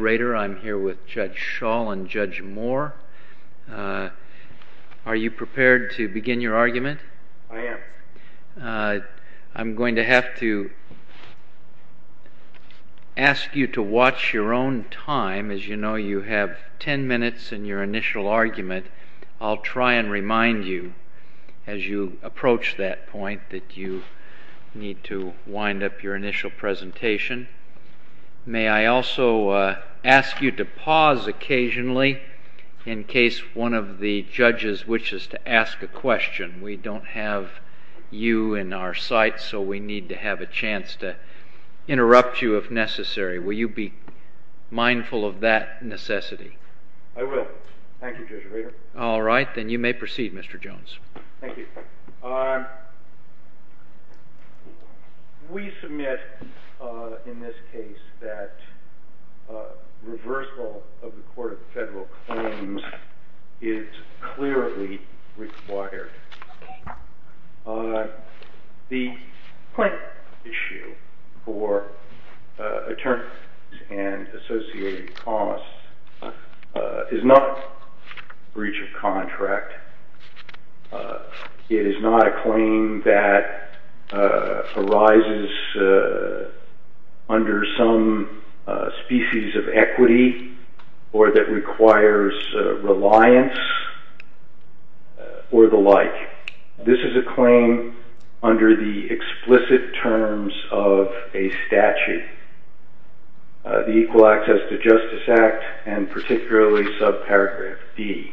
I'm here with Judge Schall and Judge Moore. Are you prepared to begin your argument? I am. I'm going to have to ask you to watch your own time. As you know, you have ten minutes in your initial argument. I'll try and remind you as you approach that point that you need to wind up your initial presentation. May I also ask you to pause occasionally in case one of the judges wishes to ask a question. We don't have you in our sight, so we need to have a chance to interrupt you if necessary. Will you be mindful of that necessity? I will. Thank you, Judge Rader. All right. Then you may proceed, Mr. Jones. Thank you. We submit in this case that reversal of the Court of Federal Claims is clearly required. The claim issue for attorneys and associated costs is not a breach of contract. It is not a claim that arises under some species of equity or that requires reliance or the like. This is a claim under the explicit terms of a statute, the Equal Access to Justice Act, and particularly subparagraph D.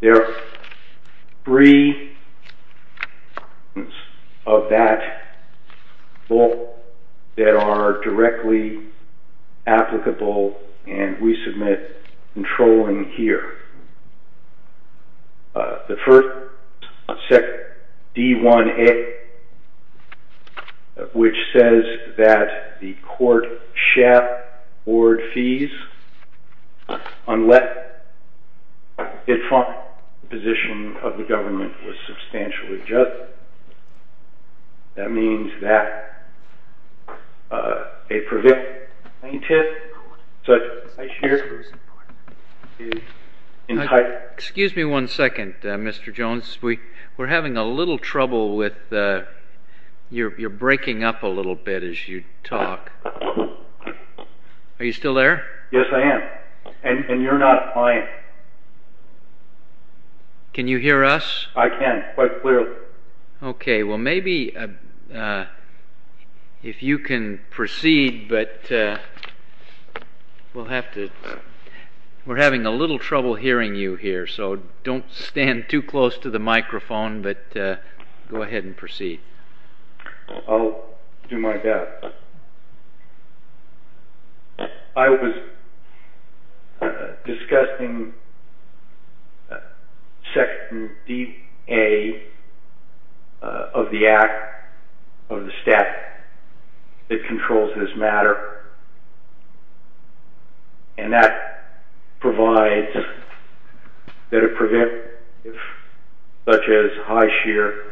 There are three of that law that are directly applicable, and we submit controlling here. The first, D-1A, which says that the court shall award fees unless it finds the position of the government was substantially just. That means that a prevailing plaintiff such as here is entitled… Excuse me one second, Mr. Jones. We're having a little trouble with your breaking up a little bit as you talk. Are you still there? Yes, I am, and you're not quiet. Can you hear us? I can quite clearly. Okay, well maybe if you can proceed, but we're having a little trouble hearing you here, so don't stand too close to the microphone, but go ahead and proceed. I'll do my best. I was discussing Section D.A. of the Act, of the statute, that controls this matter, and that provides that a prevailing plaintiff such as Highshear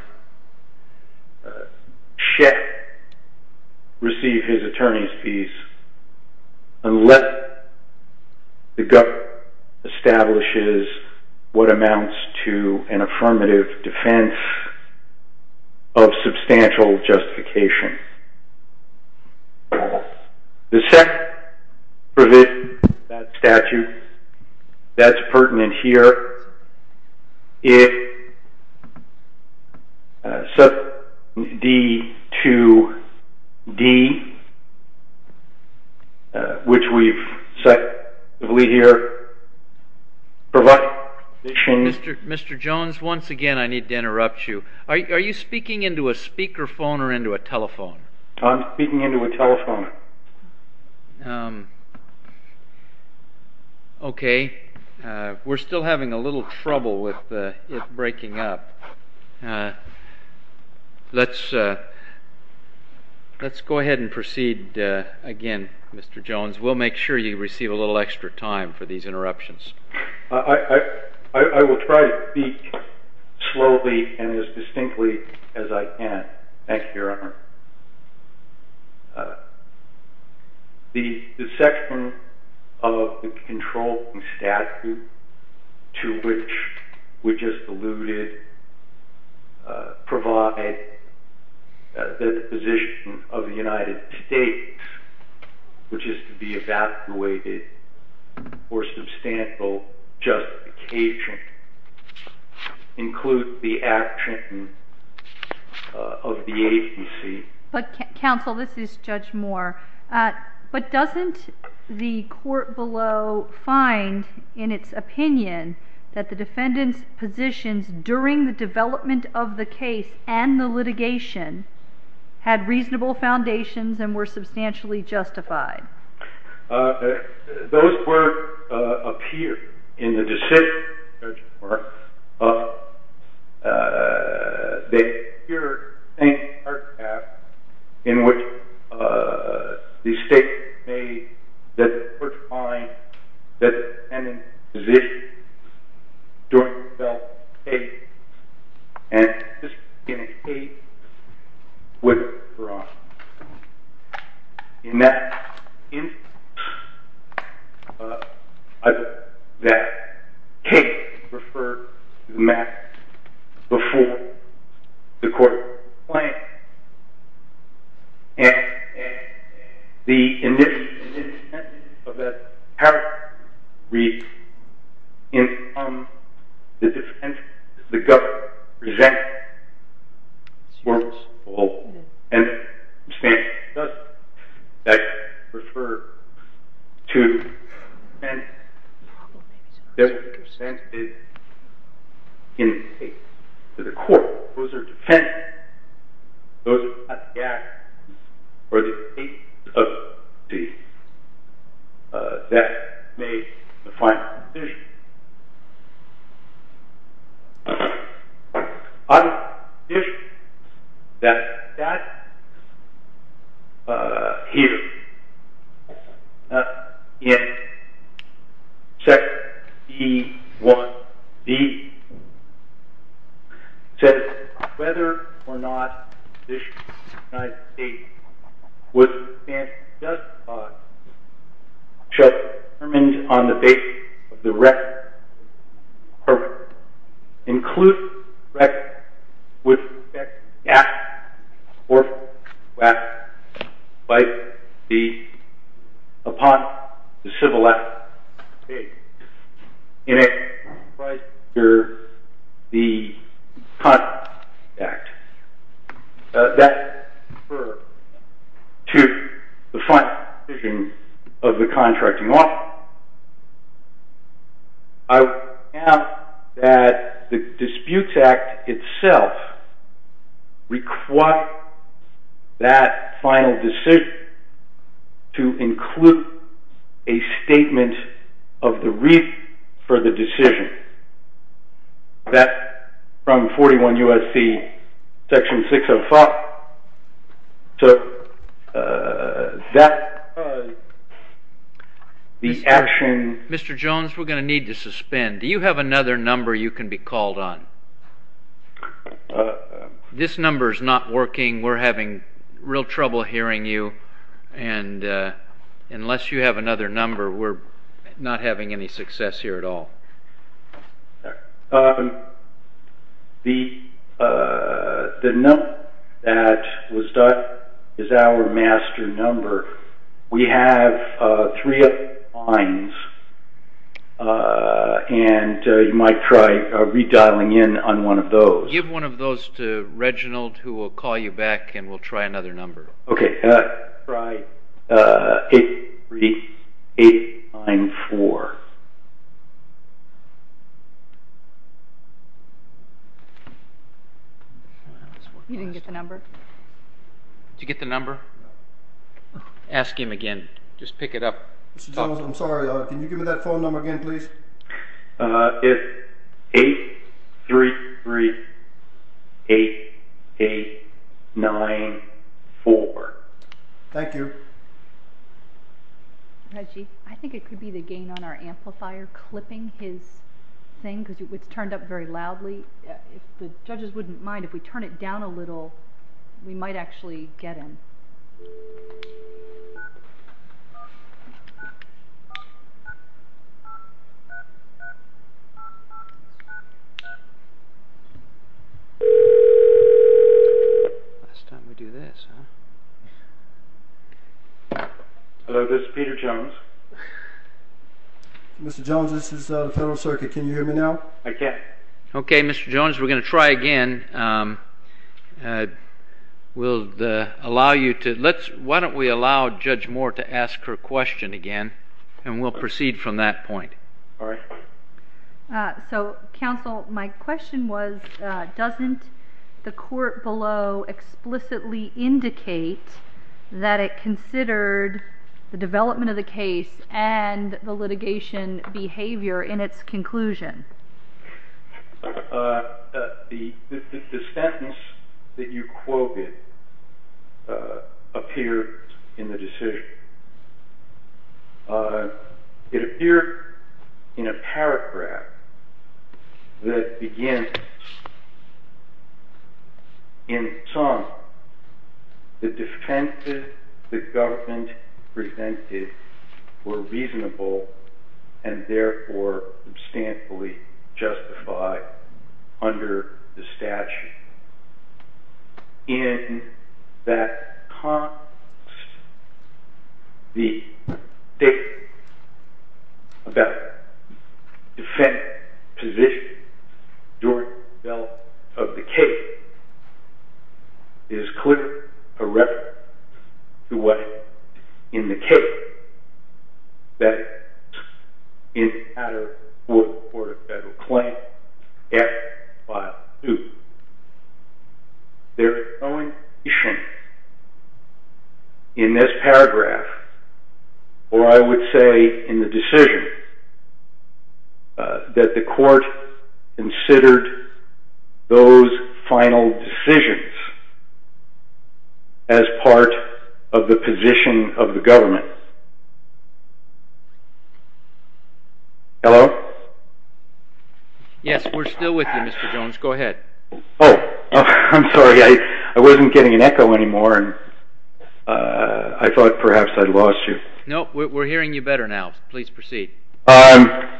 should receive his attorney's fees unless the government establishes what amounts to an affirmative defense of substantial justification. The second provision of that statute that's pertinent here is Section D-2-D, which we've cited here. Mr. Jones, once again I need to interrupt you. Are you speaking into a speakerphone or into a telephone? I'm speaking into a telephone. Okay, we're still having a little trouble with it breaking up. Let's go ahead and proceed again, Mr. Jones. We'll make sure you receive a little extra time for these interruptions. I will try to speak slowly and as distinctly as I can. Thank you, Your Honor. The section of the controlling statute to which we just alluded provides that the position of the United States, which is to be evacuated for substantial justification, includes the action of the agency. Counsel, this is Judge Moore. But doesn't the court below find in its opinion that the defendant's positions during the development of the case and the litigation had reasonable foundations and were substantially justified? Those were appeared in the decision, Judge Moore. They appeared in the same architecture in which the state made that the court find that the defendant's positions during the development of the case and the litigation had reasonable foundations. In that instance, that case referred to the matter before the court was planned. And the initial intent of that paragraph reads, In the defense, the government presents a substantial and substantial justification. That referred to the defense. That was presented in the case to the court. Those are defense. Those are not the act. Or the case of the death made in the final decision. I would suggest that that here, in section B.1.d, says whether or not the position of the United States was substantially justified. Should it be determined on the basis of the record, or include record with respect to the act, or if the act might be upon the civil act to be made in it prior to the conduct of the act. That referred to the final decision of the contracting office. I would point out that the disputes act itself requires that final decision to include a statement of the reason for the decision. That's from 41 U.S.C. section 605. Mr. Jones, we're going to need to suspend. Do you have another number you can be called on? This number is not working. We're having real trouble hearing you. And unless you have another number, we're not having any success here at all. The number that was dialed is our master number. We have three other lines, and you might try redialing in on one of those. Give one of those to Reginald, who will call you back, and we'll try another number. Okay. Try 894. You didn't get the number. Did you get the number? Ask him again. Just pick it up. Mr. Jones, I'm sorry. Can you give me that phone number again, please? It's 833-8894. Thank you. Reggie, I think it could be the gain on our amplifier clipping his thing, because it's turned up very loudly. If the judges wouldn't mind, if we turn it down a little, we might actually get him. Last time we do this, huh? Hello, this is Peter Jones. Mr. Jones, this is the Federal Circuit. Can you hear me now? I can. Okay, Mr. Jones, we're going to try again. Why don't we allow Judge Moore to ask her question again, and we'll proceed from that point. All right. So, counsel, my question was, doesn't the court below explicitly indicate that it considered the development of the case and the litigation behavior in its conclusion? The sentence that you quoted appeared in the decision. It appeared in a paragraph that begins, In sum, the defenses the government presented were reasonable and, therefore, substantially justified under the statute. In that context, the statement about the defendant's position during the development of the case is clearly a reference to what happened in the case that is in the Attorney for the Court of Federal Claim, Act, File 2. There is no indication in this paragraph, or I would say in the decision, that the court considered those final decisions as part of the position of the government. Hello? Yes, we're still with you, Mr. Jones. Go ahead. Oh, I'm sorry. I wasn't getting an echo anymore, and I thought perhaps I'd lost you. No, we're hearing you better now. Please proceed. Okay.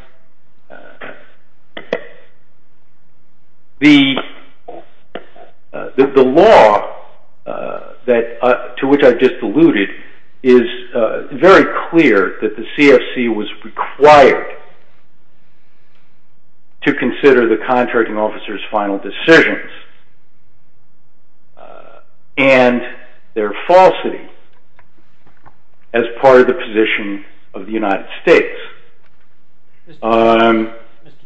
The law to which I've just alluded is very clear that the CFC was required to consider the contracting officer's final decisions and their falsity as part of the position of the United States. Mr.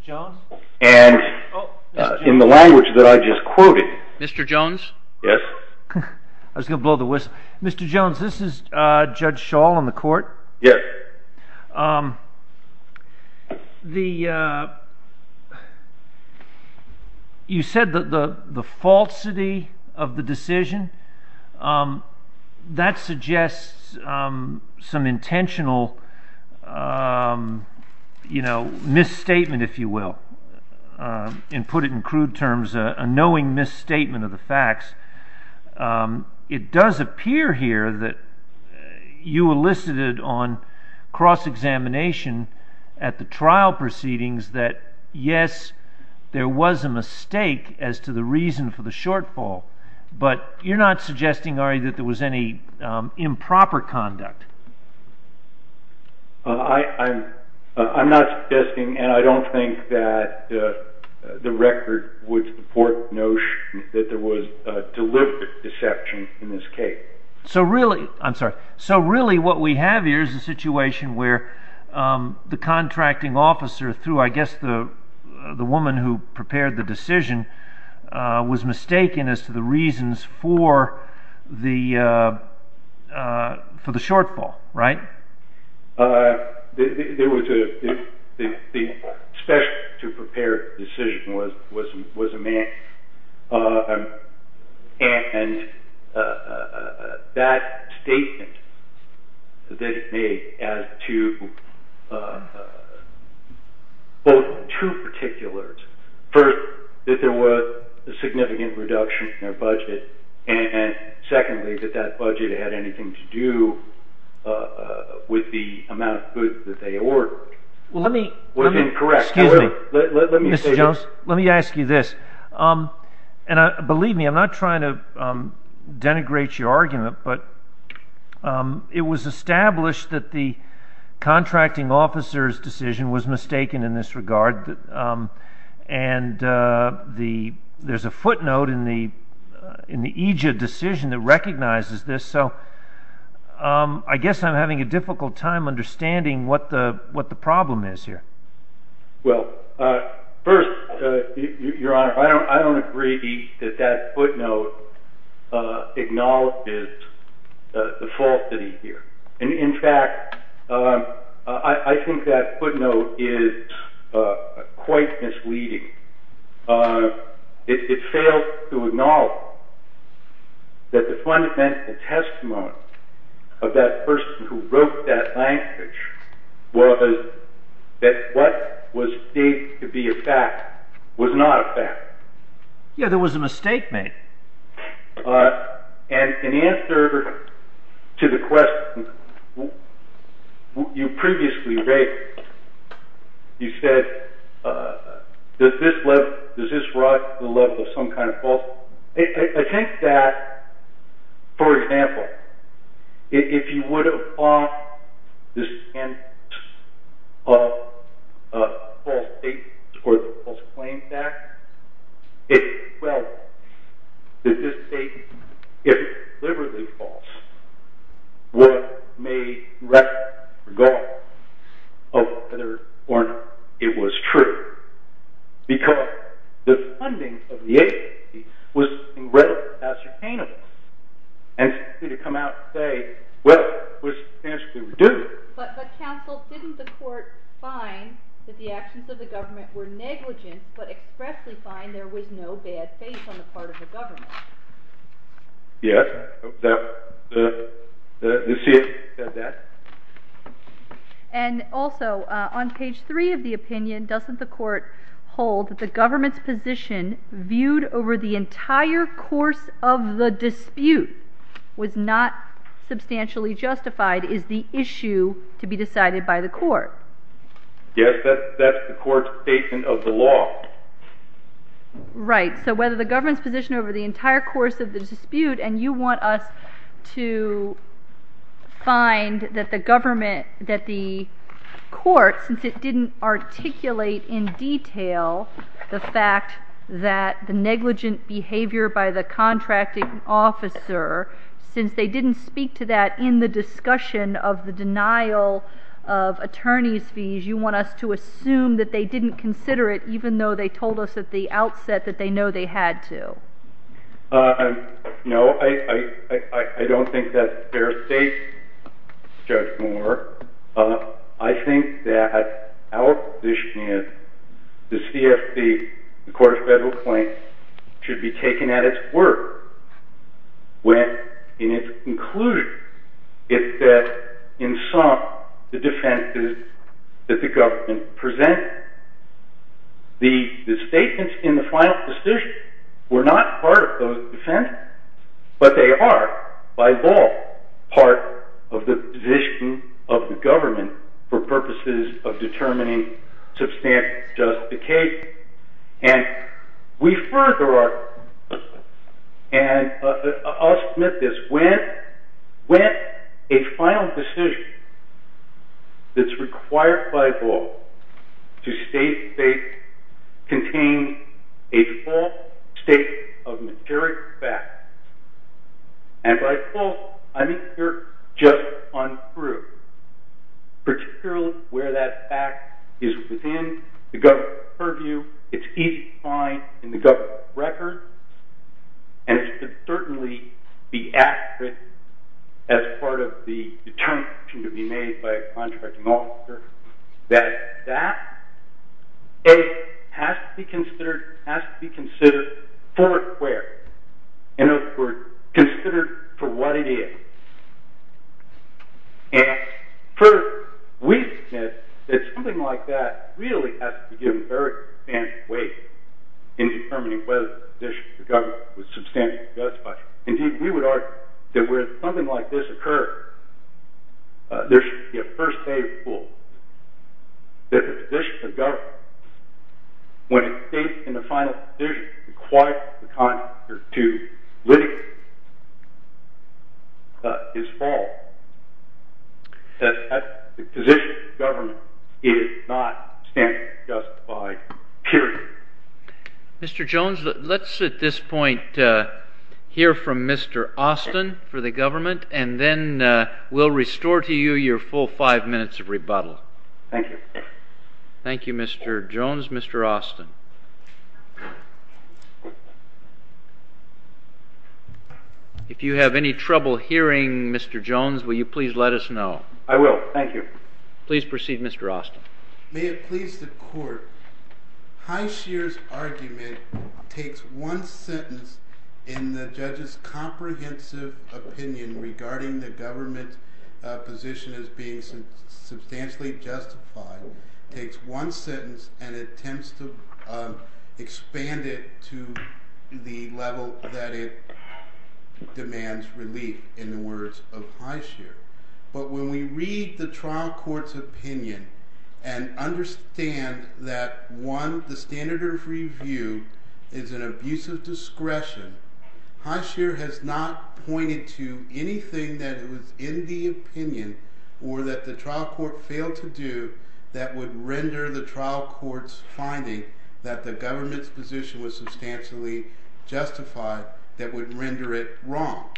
Jones? In the language that I just quoted. Mr. Jones? Yes? I was going to blow the whistle. Mr. Jones, this is Judge Schall in the court. Yes. You said the falsity of the decision. That suggests some intentional misstatement, if you will, and put it in crude terms, a knowing misstatement of the facts. It does appear here that you elicited on cross-examination at the trial proceedings that, yes, there was a mistake as to the reason for the shortfall, but you're not suggesting, are you, that there was any improper conduct? I'm not suggesting, and I don't think that the record would support the notion that there was deliberate deception in this case. I'm sorry. So really what we have here is a situation where the contracting officer, through I guess the woman who prepared the decision, was mistaken as to the reasons for the shortfall, right? The special to prepare the decision was a man, and that statement that it made as to both two particulars. First, that there was a significant reduction in their budget, and secondly, that that budget had anything to do with the amount of food that they ordered. Let me ask you this. Believe me, I'm not trying to denigrate your argument, but it was established that the contracting officer's decision was mistaken in this regard, and there's a footnote in the EJID decision that recognizes this. So I guess I'm having a difficult time understanding what the problem is here. Well, first, Your Honor, I don't agree that that footnote acknowledges the falsity here. In fact, I think that footnote is quite misleading. It fails to acknowledge that the fundamental testimony of that person who wrote that language was that what was stated to be a fact was not a fact. Yeah, there was a mistake made. And in answer to the question you previously raised, you said, does this rise to the level of some kind of falsehood? I think that, for example, if you would have bought this sentence of false statements or the False Claims Act, well, did this state, if deliberately false, would have made recognition regardless of whether or not it was true, because the funding of the agency was incredibly substantial, and simply to come out and say, well, it was substantially reduced. But, counsel, didn't the court find that the actions of the government were negligent, but expressly find there was no bad faith on the part of the government? Yes, the CF said that. And also, on page 3 of the opinion, doesn't the court hold that the government's position viewed over the entire course of the dispute was not substantially justified is the issue to be decided by the court? Yes, that's the court's statement of the law. Right, so whether the government's position over the entire course of the dispute, and you want us to find that the court, since it didn't articulate in detail the fact that the negligent behavior by the contracting officer, since they didn't speak to that in the discussion of the denial of attorney's fees, you want us to assume that they didn't consider it, even though they told us at the outset that they know they had to? No, I don't think that's fair state, Judge Moore. I think that our position is the CFC, the Court of Federal Claims, should be taken at its word when, in its conclusion, it said in sum the defenses that the government presented. The statements in the final decision were not part of those defenses, but they are, by law, part of the position of the government for purposes of determining substantial justification. And we further our position, and I'll submit this, when a final decision that's required by law to state they contain a false state of materic facts, and by false, I mean they're just untrue, particularly where that fact is within the government's purview. It's easy to find in the government's record, and it should certainly be accurate as part of the determination to be made by a contracting officer that that, A, has to be considered for it where? In other words, considered for what it is. And further, we submit that something like that really has to be given very substantial weight in determining whether the position of the government was substantially justified. Indeed, we would argue that where something like this occurred, there should be a first aid rule that the position of government, when it states in the final decision required the contractor to litigate, is false. That the position of government is not substantially justified, period. Mr. Jones, let's at this point hear from Mr. Austin for the government, and then we'll restore to you your full five minutes of rebuttal. Thank you. Thank you, Mr. Jones. Mr. Austin. If you have any trouble hearing Mr. Jones, will you please let us know? I will. Thank you. Please proceed, Mr. Austin. May it please the court, Highshear's argument takes one sentence in the judge's comprehensive opinion regarding the government's position as being substantially justified, takes one sentence and attempts to expand it to the level that it demands relief in the words of Highshear. But when we read the trial court's opinion and understand that, one, the standard of review is an abuse of discretion, Highshear has not pointed to anything that was in the opinion or that the trial court failed to do that would render the trial court's finding that the government's position was substantially justified, that would render it wrong.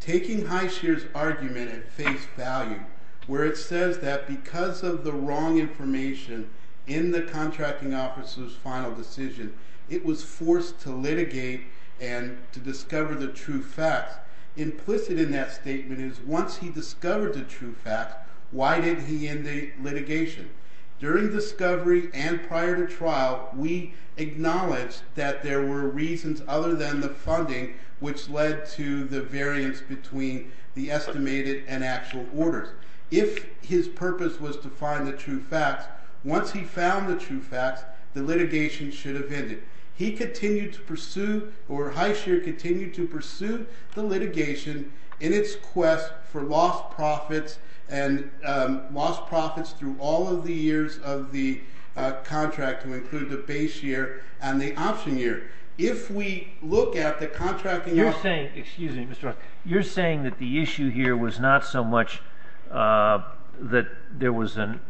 Taking Highshear's argument at face value, where it says that because of the wrong information in the contracting officer's final decision, it was forced to litigate and to discover the true facts. Implicit in that statement is once he discovered the true facts, why did he end the litigation? During discovery and prior to trial, we acknowledged that there were reasons other than the funding which led to the variance between the estimated and actual orders. If his purpose was to find the true facts, once he found the true facts, the litigation should have ended. He continued to pursue, or Highshear continued to pursue, the litigation in its quest for lost profits and lost profits through all of the years of the contract to include the base year and the option year. If we look at the contracting officer... You're saying that the issue here was not so much that there was an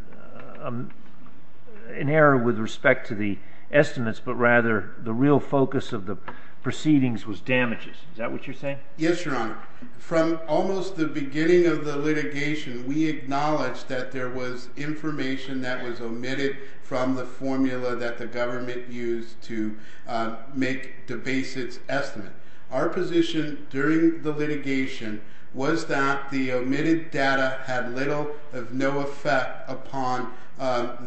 error with respect to the estimates, but rather the real focus of the proceedings was damages. Is that what you're saying? Yes, Your Honor. From almost the beginning of the litigation, we acknowledged that there was information that was omitted from the formula that the government used to make the basis estimate. Our position during the litigation was that the omitted data had little or no effect upon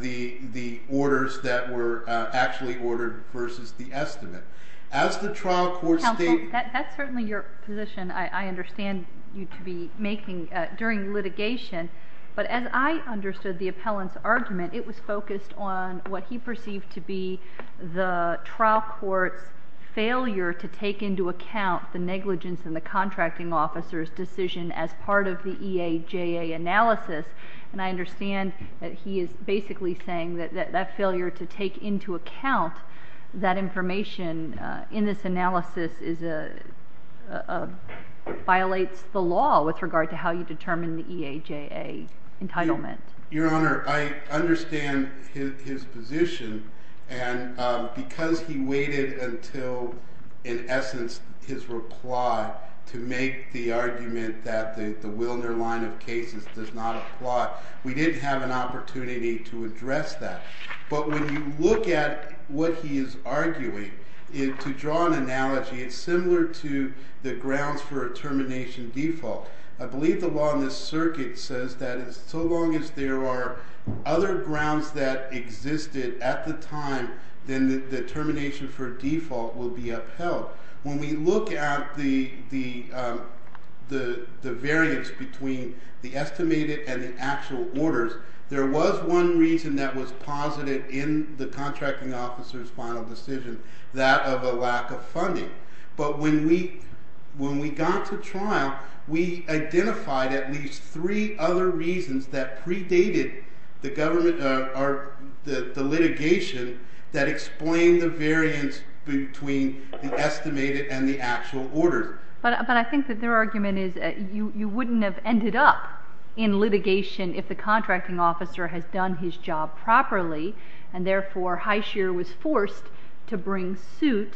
the orders that were actually ordered versus the estimate. As the trial court stated... Counsel, that's certainly your position, I understand you to be making during litigation, but as I understood the appellant's argument, it was focused on what he perceived to be the trial court's failure to take into account the negligence in the contracting officer's decision as part of the EAJA analysis. I understand that he is basically saying that that failure to take into account that information in this analysis violates the law with regard to how you determine the EAJA entitlement. Your Honor, I understand his position, and because he waited until, in essence, his reply to make the argument that the Wilner line of cases does not apply, we didn't have an opportunity to address that. But when you look at what he is arguing, to draw an analogy, it's similar to the grounds for a termination default. I believe the law in this circuit says that so long as there are other grounds that existed at the time, then the termination for default will be upheld. When we look at the variance between the estimated and the actual orders, there was one reason that was posited in the contracting officer's final decision, that of a lack of funding. But when we got to trial, we identified at least three other reasons that predated the litigation that explained the variance between the estimated and the actual orders. But I think that their argument is that you wouldn't have ended up in litigation if the contracting officer had done his job properly, and therefore Highshear was forced to bring suit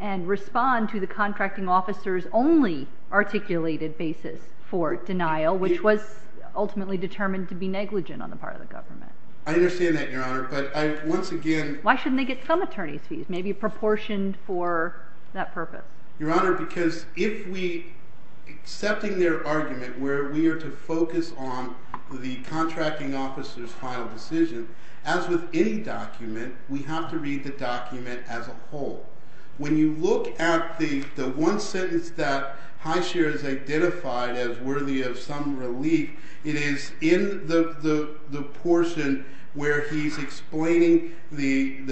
and respond to the contracting officer's only articulated basis for denial, which was ultimately determined to be negligent on the part of the government. I understand that, Your Honor, but I once again... Why shouldn't they get some attorney's fees, maybe proportioned for that purpose? Your Honor, because if we... Accepting their argument where we are to focus on the contracting officer's final decision, as with any document, we have to read the document as a whole. When you look at the one sentence that Highshear has identified as worthy of some relief, it is in the portion where he's explaining the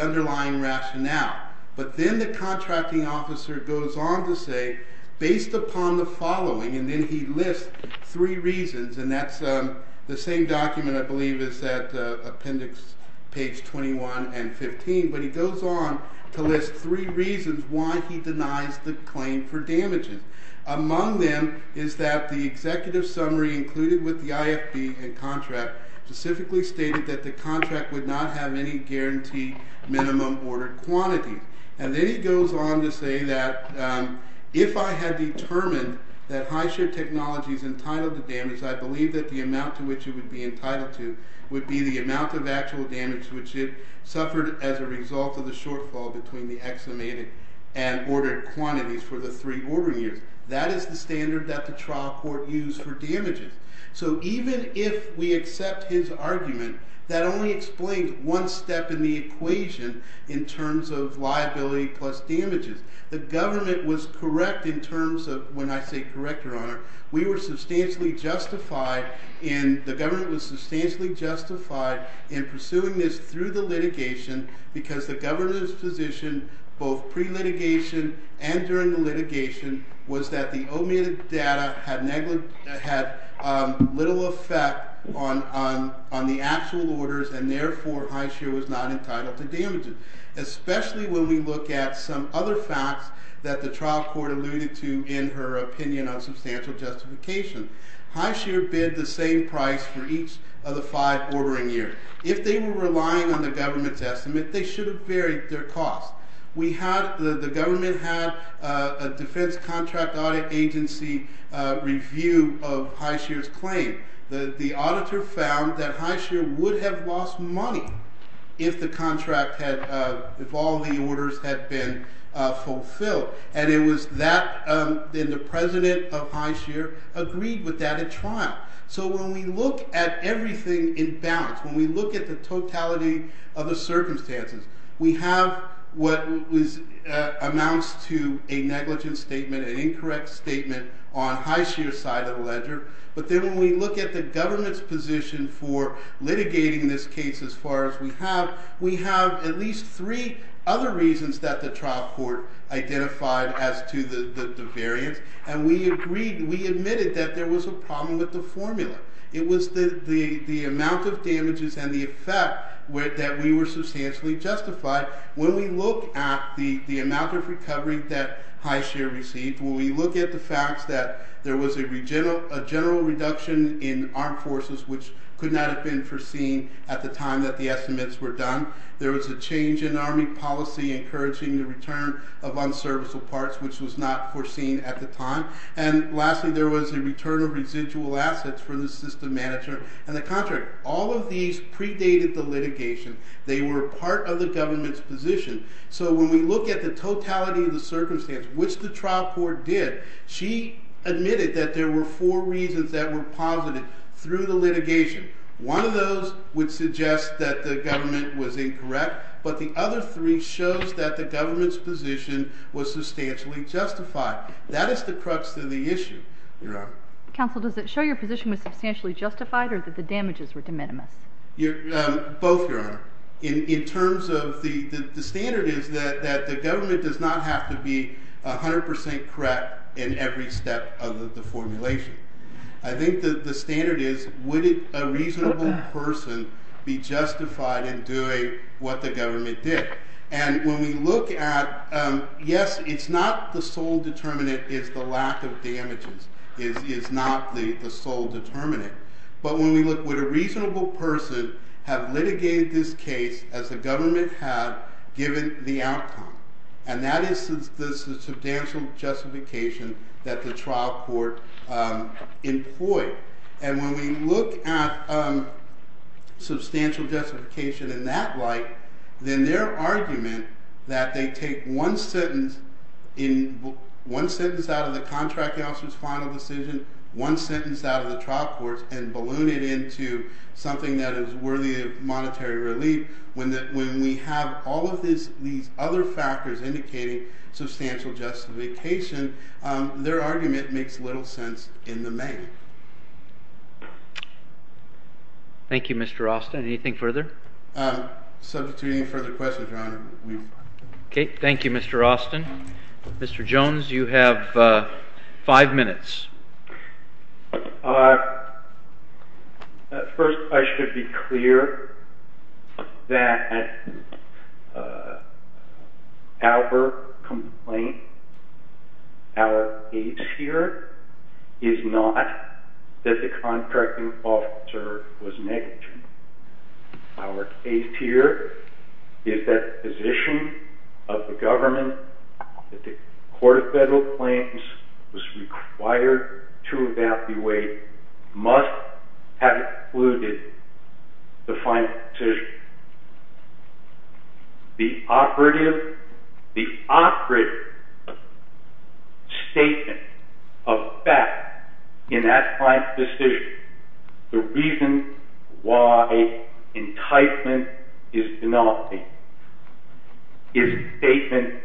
underlying rationale. But then the contracting officer goes on to say, based upon the following, and then he lists three reasons, and that's the same document, I believe, is at appendix page 21 and 15, but he goes on to list three reasons why he denies the claim for damaging. Among them is that the executive summary included with the IFB and contract specifically stated that the contract would not have any guarantee minimum ordered quantity. And then he goes on to say that, if I had determined that Highshear Technologies entitled the damage, I believe that the amount to which it would be entitled to would be the amount of actual damage which it suffered as a result of the shortfall between the excimated and ordered quantities for the three ordering years. That is the standard that the trial court used for damages. So even if we accept his argument, that only explains one step in the equation in terms of liability plus damages. The government was correct in terms of, when I say correct, Your Honor, we were substantially justified, and the government was substantially justified in pursuing this through the litigation because the government's position, both pre-litigation and during the litigation, was that the omitted data had little effect on the actual orders, and therefore Highshear was not entitled to damages. Especially when we look at some other facts that the trial court alluded to in her opinion on substantial justification. Highshear bid the same price for each of the five ordering years. If they were relying on the government's estimate, they should have varied their costs. The government had a defense contract audit agency review of Highshear's claim. The auditor found that Highshear would have lost money if all the orders had been fulfilled, and the president of Highshear agreed with that at trial. So when we look at everything in balance, when we look at the totality of the circumstances, we have what amounts to a negligent statement, an incorrect statement, on Highshear's side of the ledger, but then when we look at the government's position for litigating this case as far as we have, we have at least three other reasons that the trial court identified as to the variance, and we admitted that there was a problem with the formula. It was the amount of damages and the effect that we were substantially justified. When we look at the amount of recovery that Highshear received, when we look at the fact that there was a general reduction in armed forces, which could not have been foreseen at the time that the estimates were done, there was a change in army policy encouraging the return of unserviceable parts, which was not foreseen at the time, and lastly there was a return of residual assets from the system manager and the contractor. All of these predated the litigation. They were part of the government's position. So when we look at the totality of the circumstances, which the trial court did, she admitted that there were four reasons that were posited through the litigation. One of those would suggest that the government was incorrect, but the other three shows that the government's position was substantially justified. That is the crux of the issue, Your Honor. Counsel, does it show your position was substantially justified or that the damages were de minimis? Both, Your Honor. The standard is that the government does not have to be 100% correct in every step of the formulation. I think the standard is, would a reasonable person be justified in doing what the government did? And when we look at, yes, it's not the sole determinant is the lack of damages. It is not the sole determinant. But when we look, would a reasonable person have litigated this case as the government had given the outcome? And that is the substantial justification that the trial court employed. And when we look at substantial justification in that light, then their argument that they take one sentence out of the contract officer's final decision, one sentence out of the trial court's and balloon it into something that is worthy of monetary relief, when we have all of these other factors indicating substantial justification, their argument makes little sense in the main. Thank you, Mr. Alston. Anything further? Substitute any further questions, Your Honor. Okay. Thank you, Mr. Alston. Mr. Jones, you have five minutes. First, I should be clear that our complaint, our case here, is not that the contracting officer was negligent. Our case here is that the position of the government, that the Court of Federal Claims was required to evaluate, must have included the final decision. The operative statement of fact in that client's decision, the reason why enticement is penalty, is a statement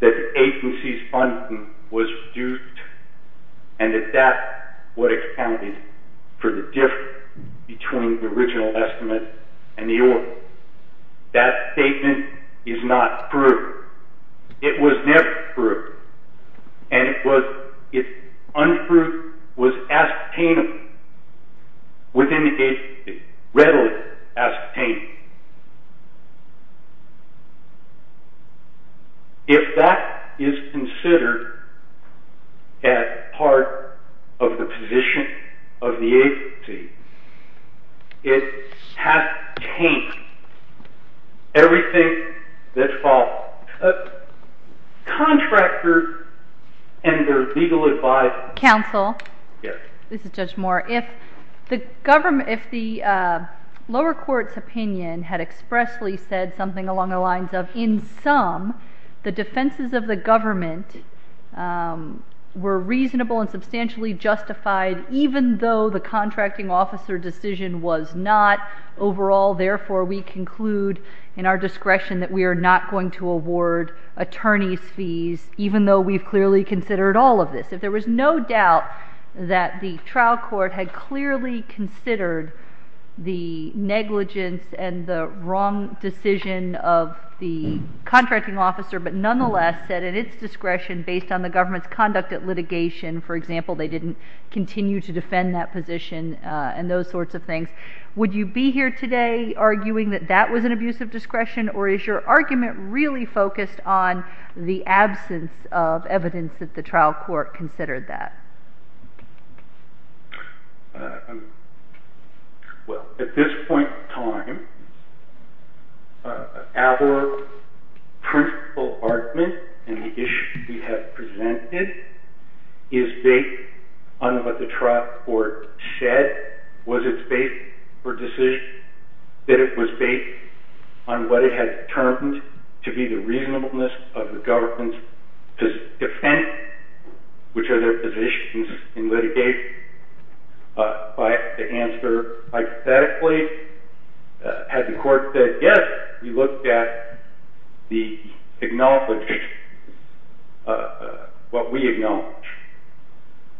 that the agency's funding was reduced and that that's what accounted for the difference between the original estimate and the oral. That statement is not true. It was never true. And it was, if untrue, was ascertainable within the agency, readily ascertainable. If that is considered as part of the position of the agency, it has changed everything that follows. Contractors and their legal advisors... Counsel? Yes. This is Judge Moore. If the lower court's opinion had expressly said something along the lines of, in sum, the defenses of the government were reasonable and substantially justified, even though the contracting officer decision was not overall, therefore we conclude in our discretion that we are not going to award attorney's fees, even though we've clearly considered all of this. If there was no doubt that the trial court had clearly considered the negligence and the wrong decision of the contracting officer, but nonetheless said in its discretion based on the government's conduct at litigation, for example, they didn't continue to defend that position and those sorts of things, would you be here today arguing that that was an abuse of discretion, or is your argument really focused on the absence of evidence that the trial court considered that? Well, at this point in time, our principle argument in the issue we have presented is based on what the trial court said, was it based for decision, that it was based on what it had determined to be the reasonableness of the government to defend which of their positions in litigation. By the answer hypothetically, had the court said yes, we looked at what we acknowledge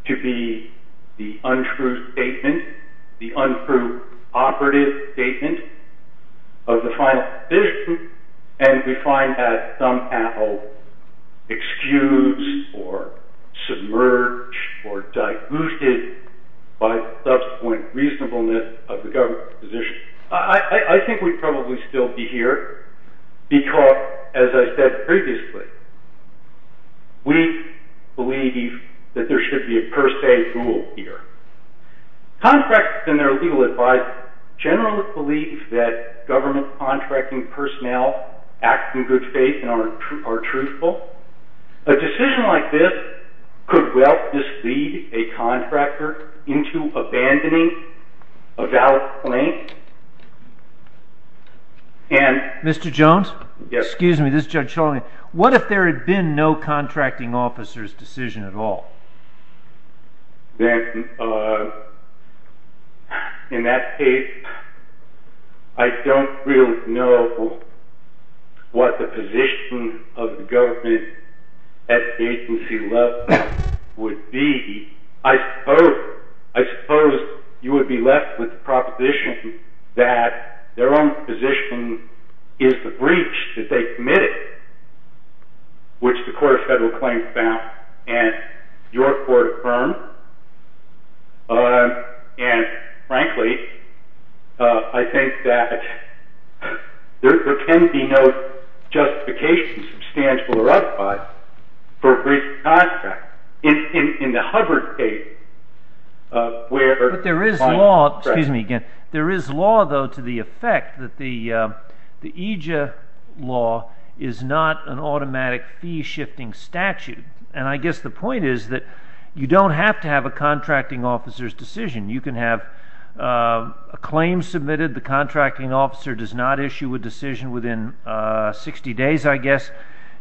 to be the untrue statement, the untrue operative statement of the final decision, and we find that somehow excused or submerged or diluted by subsequent reasonableness of the government's position. I think we'd probably still be here, because as I said previously, we believe that there should be a per se rule here. Contractors and their legal advisors generally believe that government contracting personnel act in good faith and are truthful. A decision like this could well mislead a contractor into abandoning a valid claim. Mr. Jones, what if there had been no contracting officer's decision at all? In that case, I don't really know what the position of the government at the agency level would be. I suppose you would be left with the proposition that their own position is the breach that they committed, which the Court of Federal Claims found, and your court affirmed. And frankly, I think that there can be no justification, substantial or otherwise, for breach of contract. In the Hubbard case, where— But there is law—excuse me again. There is law, though, to the effect that the EJIA law is not an automatic fee-shifting statute. And I guess the point is that you don't have to have a contracting officer's decision. You can have a claim submitted, the contracting officer does not issue a decision within 60 days, I guess,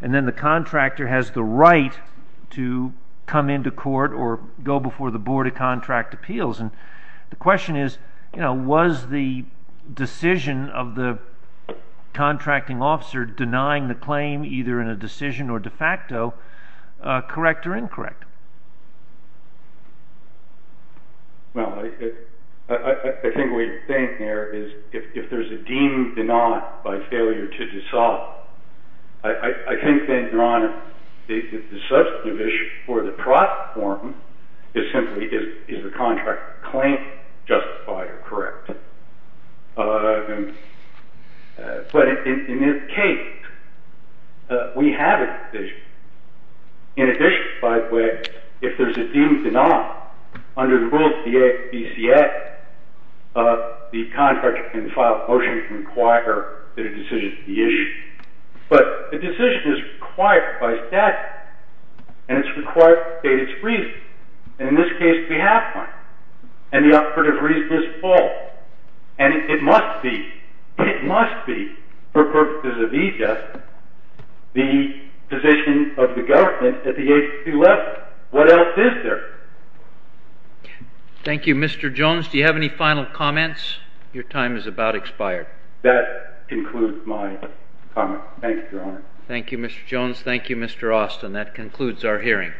and then the contractor has the right to come into court or go before the Board of Contract Appeals. And the question is, was the decision of the contracting officer denying the claim, either in a decision or de facto, correct or incorrect? Well, I think what you're saying here is, if there's a deemed denial by failure to dissolve, I think then, Your Honor, the substantive issue for the profit form is simply, is the contract claim justified or correct? But in this case, we have a decision. In addition, by the way, if there's a deemed denial, under the rules of the ABCA, the contractor can file a motion to require that a decision be issued. But a decision is required by statute, and it's required to state its reason. And in this case, we have one. And the operative reason is false. And it must be, it must be, for purposes of e-justice, the position of the government at the agency level. What else is there? Thank you, Mr. Jones. Do you have any final comments? Your time is about expired. That concludes my comment. Thank you, Your Honor. Thank you, Mr. Jones. Thank you, Mr. Austin. And that concludes our hearing.